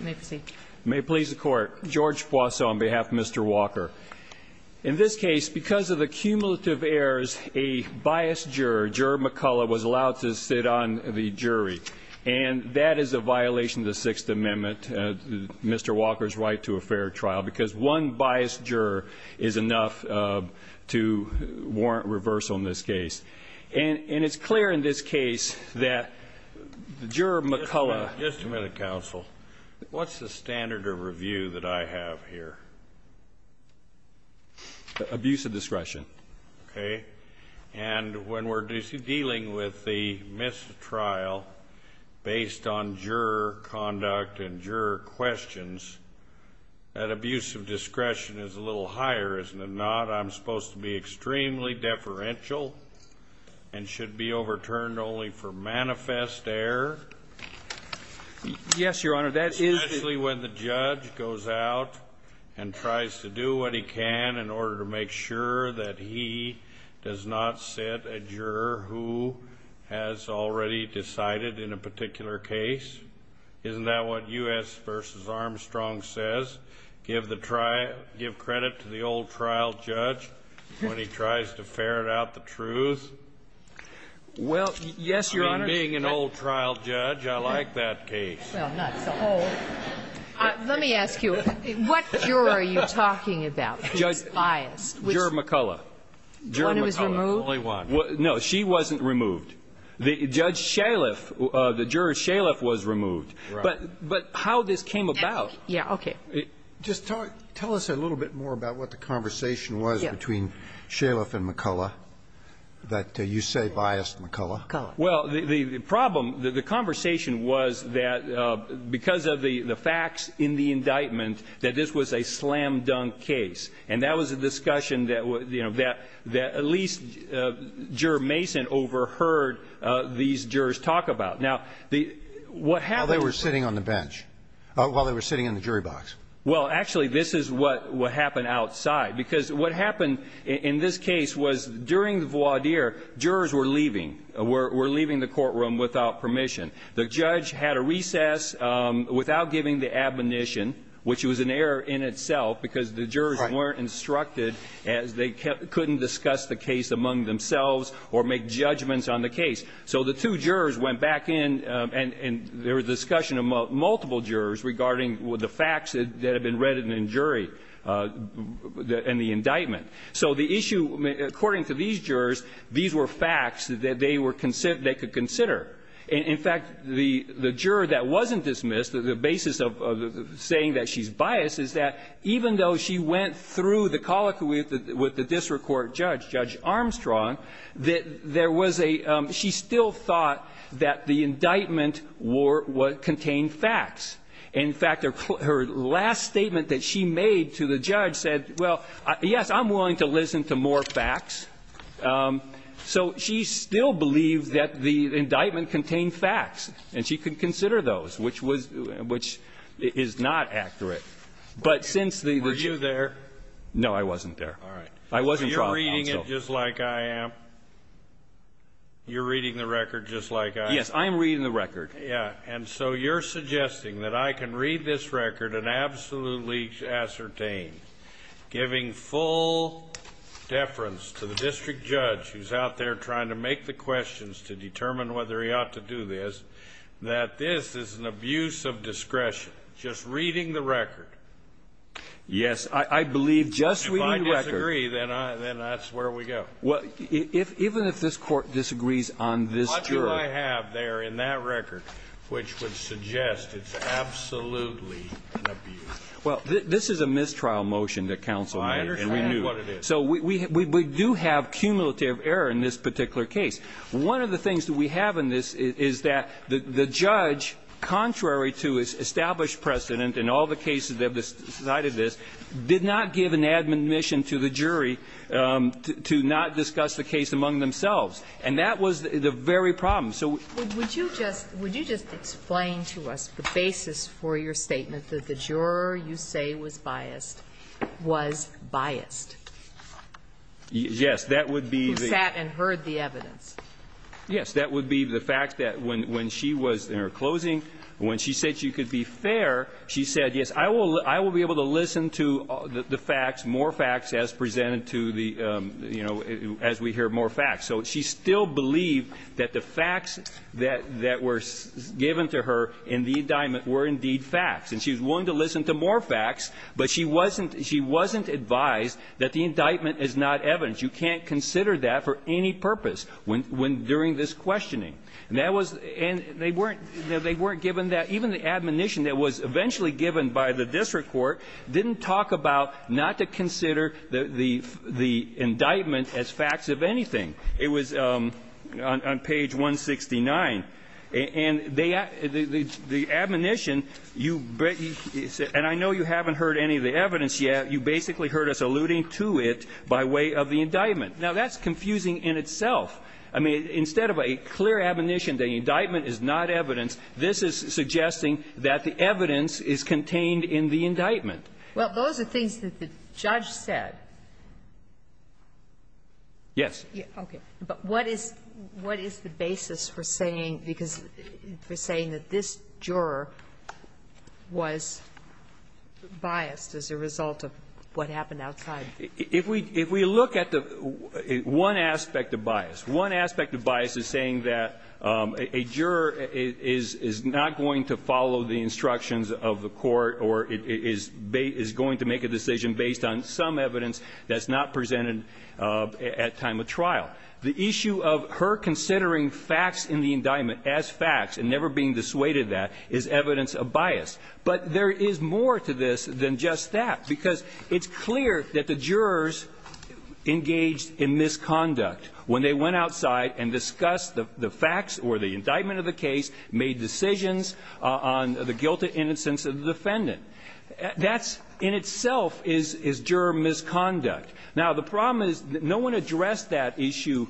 May it please the court. George Poisson on behalf of Mr. Walker. In this case, because of the cumulative errors, a biased juror, Juror McCullough, was allowed to sit on the jury. And that is a violation of the Sixth Amendment, Mr. Walker's right to a fair trial, because one biased juror is enough to warrant reversal in this case. And it's clear in this case that Juror McCullough. Just a minute, counsel. What's the standard of review that I have here? Abuse of discretion. Okay. And when we're dealing with the missed trial, based on juror conduct and juror questions, that abuse of discretion is a little higher, isn't it not? I'm supposed to be extremely deferential and should be overturned only for manifest error. Yes, Your Honor. Especially when the judge goes out and tries to do what he can in order to make sure that he does not sit a juror who has already decided in a particular case. Isn't that what U.S. v. Armstrong says? Give the trial – give credit to the old trial judge when he tries to ferret out the truth? Well, yes, Your Honor. I mean, being an old trial judge, I like that case. Well, not so old. Let me ask you, what juror are you talking about who is biased? Juror McCullough. When it was removed? Only one. No, she wasn't removed. Judge Shaliff, the juror Shaliff was removed. Right. But how this came about. Yeah, okay. Just tell us a little bit more about what the conversation was between Shaliff and McCullough, that you say biased McCullough. Well, the problem, the conversation was that because of the facts in the indictment that this was a slam-dunk case. And that was a discussion that, you know, that at least Juror Mason overheard these jurors talk about. Now, what happened was – While they were sitting on the bench. While they were sitting in the jury box. Well, actually, this is what happened outside. Because what happened in this case was during the voir dire, jurors were leaving. Were leaving the courtroom without permission. The judge had a recess without giving the admonition, which was an error in itself because the jurors weren't instructed as they couldn't discuss the case among themselves or make judgments on the case. So the two jurors went back in and there was discussion among multiple jurors regarding the facts that had been read in the jury in the indictment. So the issue, according to these jurors, these were facts that they were – that they could consider. In fact, the juror that wasn't dismissed, the basis of saying that she's biased, is that even though she went through the colloquy with the district court judge, Judge that the indictment contained facts. In fact, her last statement that she made to the judge said, well, yes, I'm willing to listen to more facts. So she still believed that the indictment contained facts and she could consider those, which was – which is not accurate. But since the – Were you there? No, I wasn't there. All right. I wasn't there. So you're reading it just like I am? You're reading the record just like I am? Yes, I'm reading the record. Yeah. And so you're suggesting that I can read this record and absolutely ascertain, giving full deference to the district judge who's out there trying to make the questions to determine whether he ought to do this, that this is an abuse of discretion, just reading the record? Yes. I believe just reading the record. If I disagree, then I – then that's where we go. Well, even if this Court disagrees on this juror – What do I have there in that record which would suggest it's absolutely an abuse? Well, this is a mistrial motion that counsel made. I understand what it is. So we do have cumulative error in this particular case. One of the things that we have in this is that the judge, contrary to its established precedent in all the cases that have decided this, did not give an admonition to the jury to not discuss the case among themselves. And that was the very problem. So would you just – would you just explain to us the basis for your statement that the juror you say was biased was biased? Yes. That would be the – Who sat and heard the evidence. Yes. That would be the fact that when she was in her closing, when she said she could be fair, she said, yes, I will be able to listen to the facts, more facts as presented to the – you know, as we hear more facts. So she still believed that the facts that were given to her in the indictment were indeed facts, and she was willing to listen to more facts, but she wasn't – she wasn't advised that the indictment is not evidence. You can't consider that for any purpose when – during this questioning. And that was – and they weren't – they weren't given that. Even the admonition that was eventually given by the district court didn't talk about not to consider the indictment as facts of anything. It was on page 169. And they – the admonition, you – and I know you haven't heard any of the evidence yet. You basically heard us alluding to it by way of the indictment. Now, that's confusing in itself. I mean, instead of a clear admonition that indictment is not evidence, this is suggesting that the evidence is contained in the indictment. Well, those are things that the judge said. Yes. Okay. But what is – what is the basis for saying – because – for saying that this juror was biased as a result of what happened outside? If we – if we look at the – one aspect of bias. One aspect of bias is saying that a juror is not going to follow the instructions of the court or is going to make a decision based on some evidence that's not presented at time of trial. The issue of her considering facts in the indictment as facts and never being dissuaded that is evidence of bias. But there is more to this than just that, because it's clear that the jurors engaged in misconduct when they went outside and discussed the facts or the indictment of the case, made decisions on the guilt and innocence of the defendant. That's in itself is – is juror misconduct. Now, the problem is no one addressed that issue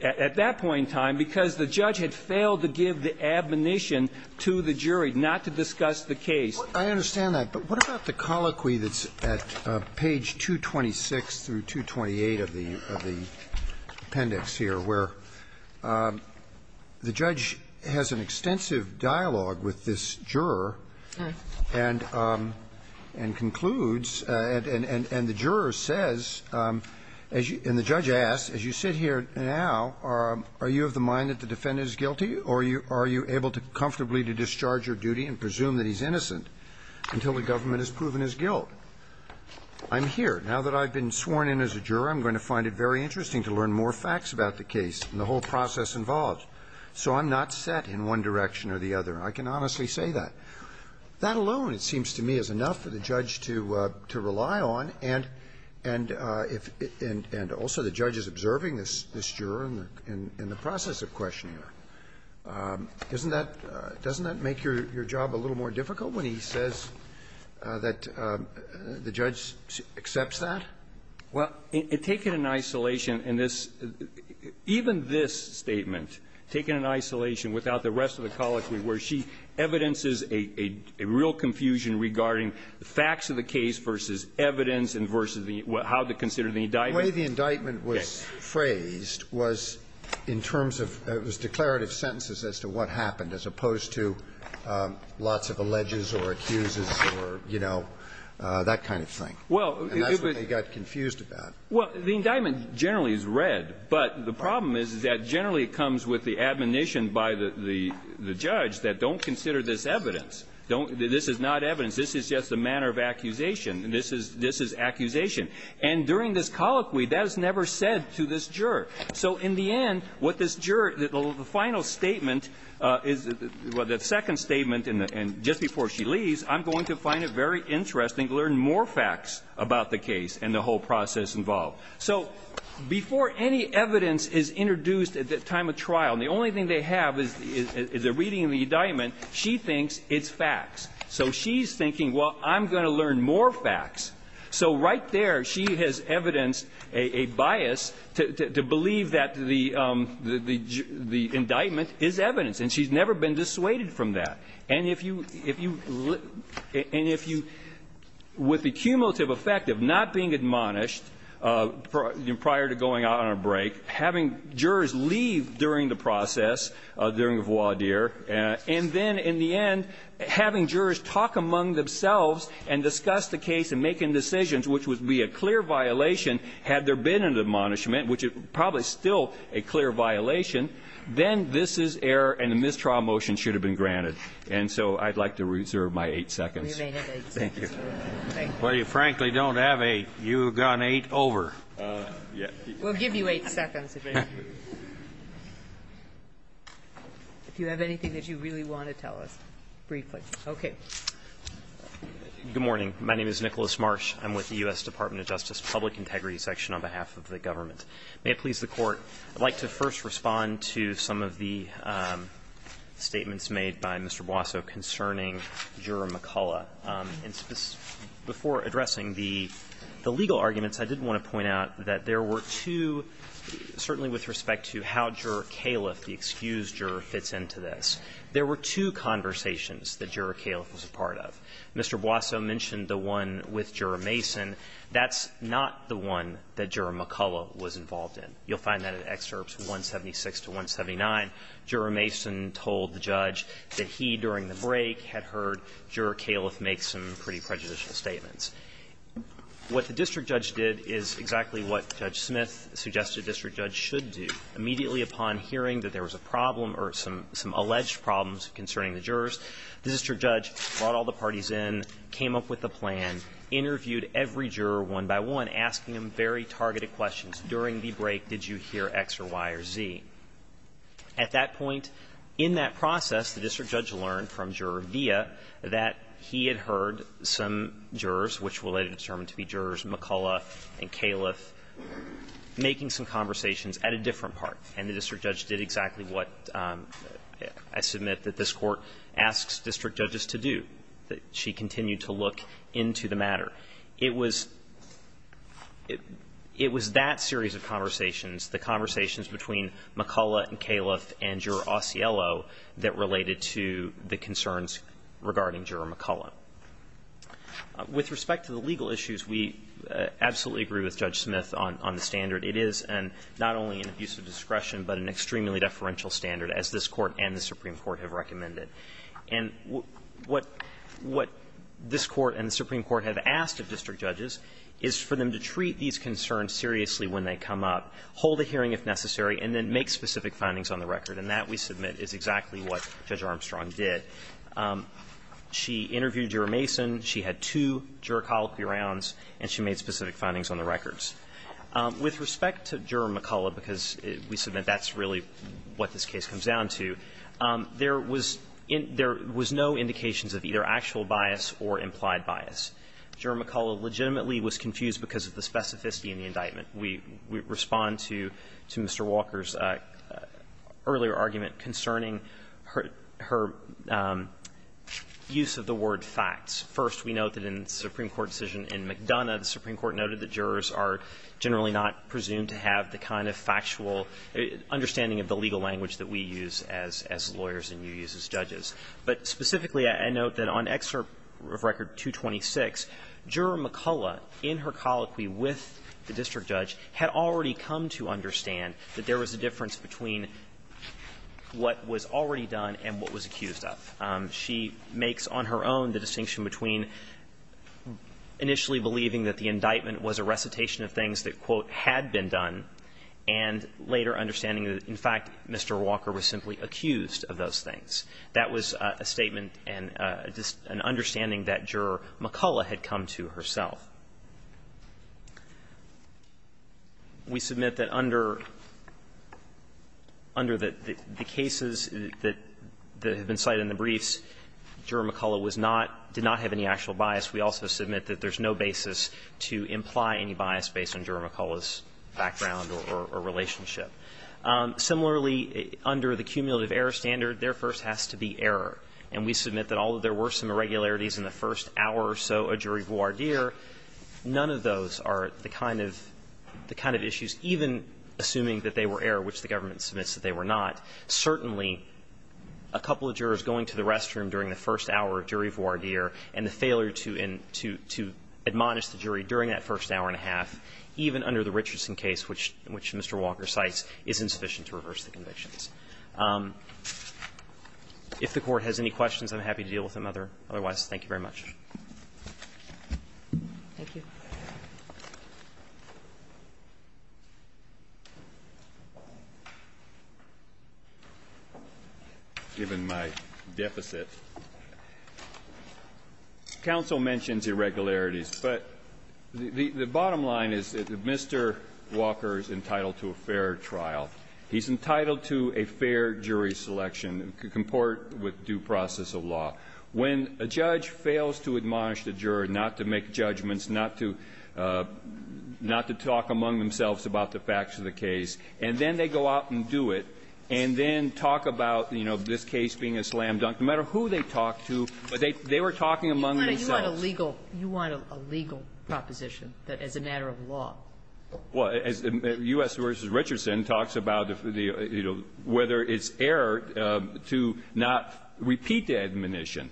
at that point in time because the judge had failed to give the admonition to the jury not to discuss the case. I understand that. But what about the colloquy that's at page 226 through 228 of the – of the appendix here where the judge has an extensive dialogue with this juror and – and concludes – and the juror says, and the judge asks, as you sit here now, are you of the mind that the defendant is guilty, or are you able to comfortably discharge your duty and presume that he's innocent until the government has proven his guilt? I'm here. Now that I've been sworn in as a juror, I'm going to find it very interesting to learn more facts about the case and the whole process involved. So I'm not set in one direction or the other. I can honestly say that. That alone, it seems to me, is enough for the judge to – to rely on and – and if – and – and also the judge is observing this – this juror in the – in the process of questioning her. Isn't that – doesn't that make your – your job a little more difficult when he says that the judge accepts that? Well, it – it – taken in isolation in this – even this statement, taken in isolation without the rest of the colloquy, where she evidences a – a real confusion regarding the facts of the case versus evidence and versus the – how to consider the indictment. The way the indictment was phrased was in terms of – it was declarative sentences as to what happened, as opposed to lots of alleges or accuses or, you know, that kind of thing. And that's what they got confused about. Well, the indictment generally is read. But the problem is that generally it comes with the admonition by the – the judge that don't consider this evidence. Don't – this is not evidence. This is just a manner of accusation. This is – this is accusation. And during this colloquy, that is never said to this juror. So in the end, what this juror – the final statement is – well, the second statement, and just before she leaves, I'm going to find it very interesting to learn more facts about the case and the whole process involved. So before any evidence is introduced at the time of trial, and the only thing they have is a reading of the indictment, she thinks it's facts. So she's thinking, well, I'm going to learn more facts. So right there, she has evidenced a bias to believe that the – the indictment is evidence. And she's never been dissuaded from that. And if you – and if you – with the cumulative effect of not being admonished prior to going out on a break, having jurors leave during the process, during the voir dire, and then in the end having jurors talk among themselves and discuss the case and make indecisions, which would be a clear violation, had there been an admonishment, which is probably still a clear violation, then this is error and the mistrial motion should have been granted. And so I'd like to reserve my eight seconds. Thank you. Well, you frankly don't have eight. You've gone eight over. We'll give you eight seconds. If you have anything that you really want to tell us briefly. Okay. Good morning. My name is Nicholas Marsh. I'm with the U.S. Department of Justice Public Integrity Section on behalf of the government. May it please the Court, I'd like to first respond to some of the statements made by Mr. Boasso concerning Juror McCullough. And before addressing the legal arguments, I did want to point out that there were two – certainly with respect to how Juror Califf, the excused juror, fits into this. There were two conversations that Juror Califf was a part of. Mr. Boasso mentioned the one with Juror Mason. That's not the one that Juror McCullough was involved in. You'll find that in Excerpts 176 to 179. Juror Mason told the judge that he, during the break, had heard Juror Califf make some pretty prejudicial statements. What the district judge did is exactly what Judge Smith suggested the district judge should do. Immediately upon hearing that there was a problem or some – some alleged problems concerning the jurors, the district judge brought all the parties in, came up with a plan, interviewed every juror one by one, asking them very targeted questions. During the break, did you hear X or Y or Z? At that point, in that process, the district judge learned from Juror Villa that he had heard some jurors, which were later determined to be jurors McCullough and Califf, making some conversations at a different part. And the district judge did exactly what I submit that this Court asks district judges to do, that she continued to look into the matter. It was – it was that series of conversations, the conversations between McCullough and Califf and Juror Osiello that related to the concerns regarding Juror McCullough. With respect to the legal issues, we absolutely agree with Judge Smith on the standard. It is an – not only an abuse of discretion, but an extremely deferential standard, as this Court and the Supreme Court have recommended. And what – what this Court and the Supreme Court have asked of district judges is for them to treat these concerns seriously when they come up, hold a hearing if necessary, and then make specific findings on the record. And that, we submit, is exactly what Judge Armstrong did. She interviewed Juror Mason, she had two juror colloquy rounds, and she made specific findings on the records. With respect to Juror McCullough, because we submit that's really what this case comes down to, there was no indications of either actual bias or implied bias. Juror McCullough legitimately was confused because of the specificity in the indictment. We respond to Mr. Walker's earlier argument concerning her use of the word facts. First, we note that in the Supreme Court decision in McDonough, the Supreme Court noted that jurors are generally not presumed to have the kind of factual understanding of the legal language that we use as lawyers and you use as judges. But specifically, I note that on Excerpt of Record 226, Juror McCullough, in her colloquy with the district judge, had already come to understand that there was a difference between what was already done and what was accused of. She makes, on her own, the distinction between initially believing that the indictment was a recitation of things that, quote, had been done and later understanding that, in fact, Mr. Walker was simply accused of those things. That was a statement and an understanding that Juror McCullough had come to herself. We submit that under the cases that have been cited in the brief, there was no indication that the briefs, Juror McCullough was not, did not have any actual bias. We also submit that there's no basis to imply any bias based on Juror McCullough's background or relationship. Similarly, under the cumulative error standard, there first has to be error, and we submit that although there were some irregularities in the first hour or so, a jury voir dire, none of those are the kind of issues, even assuming that they were error, which the government submits that they were not. Certainly, a couple of jurors going to the restroom during the first hour of jury voir dire and the failure to admonish the jury during that first hour and a half, even under the Richardson case, which Mr. Walker cites, is insufficient to reverse the convictions. If the Court has any questions, I'm happy to deal with them otherwise. Thank you very much. Given my deficit, counsel mentions irregularities, but the bottom line is that Mr. Walker is entitled to a fair trial. He's entitled to a fair jury selection, comport with due process of law. When a judge fails to admonish the juror, not to make judgments, not to talk among themselves about the facts of the case, and then they go out and do it, and then talk about, you know, this case being a slam dunk, no matter who they talk to, they were talking among themselves. You want a legal proposition as a matter of law. Well, as U.S. v. Richardson talks about, you know, whether it's error to not repeat the admonition.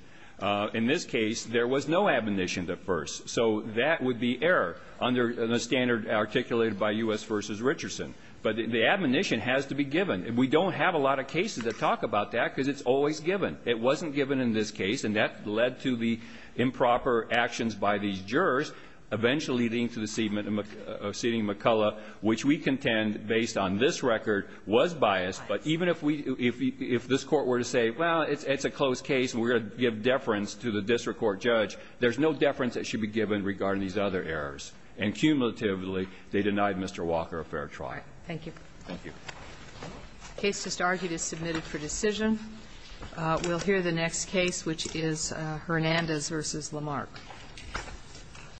In this case, there was no admonition at first. So that would be error under the standard articulated by U.S. v. Richardson. But the admonition has to be given. We don't have a lot of cases that talk about that because it's always given. It wasn't given in this case, and that led to the improper actions by these jurors, eventually leading to the seating of McCullough, which we contend, based on this record, was biased. But even if we, if this Court were to say, well, it's a close case and we're going to give deference to the district court judge, there's no deference that should be given regarding these other errors. And cumulatively, they denied Mr. Walker a fair trial. Thank you. Thank you. The case just argued is submitted for decision. We'll hear the next case, which is Hernandez v. Lamarck.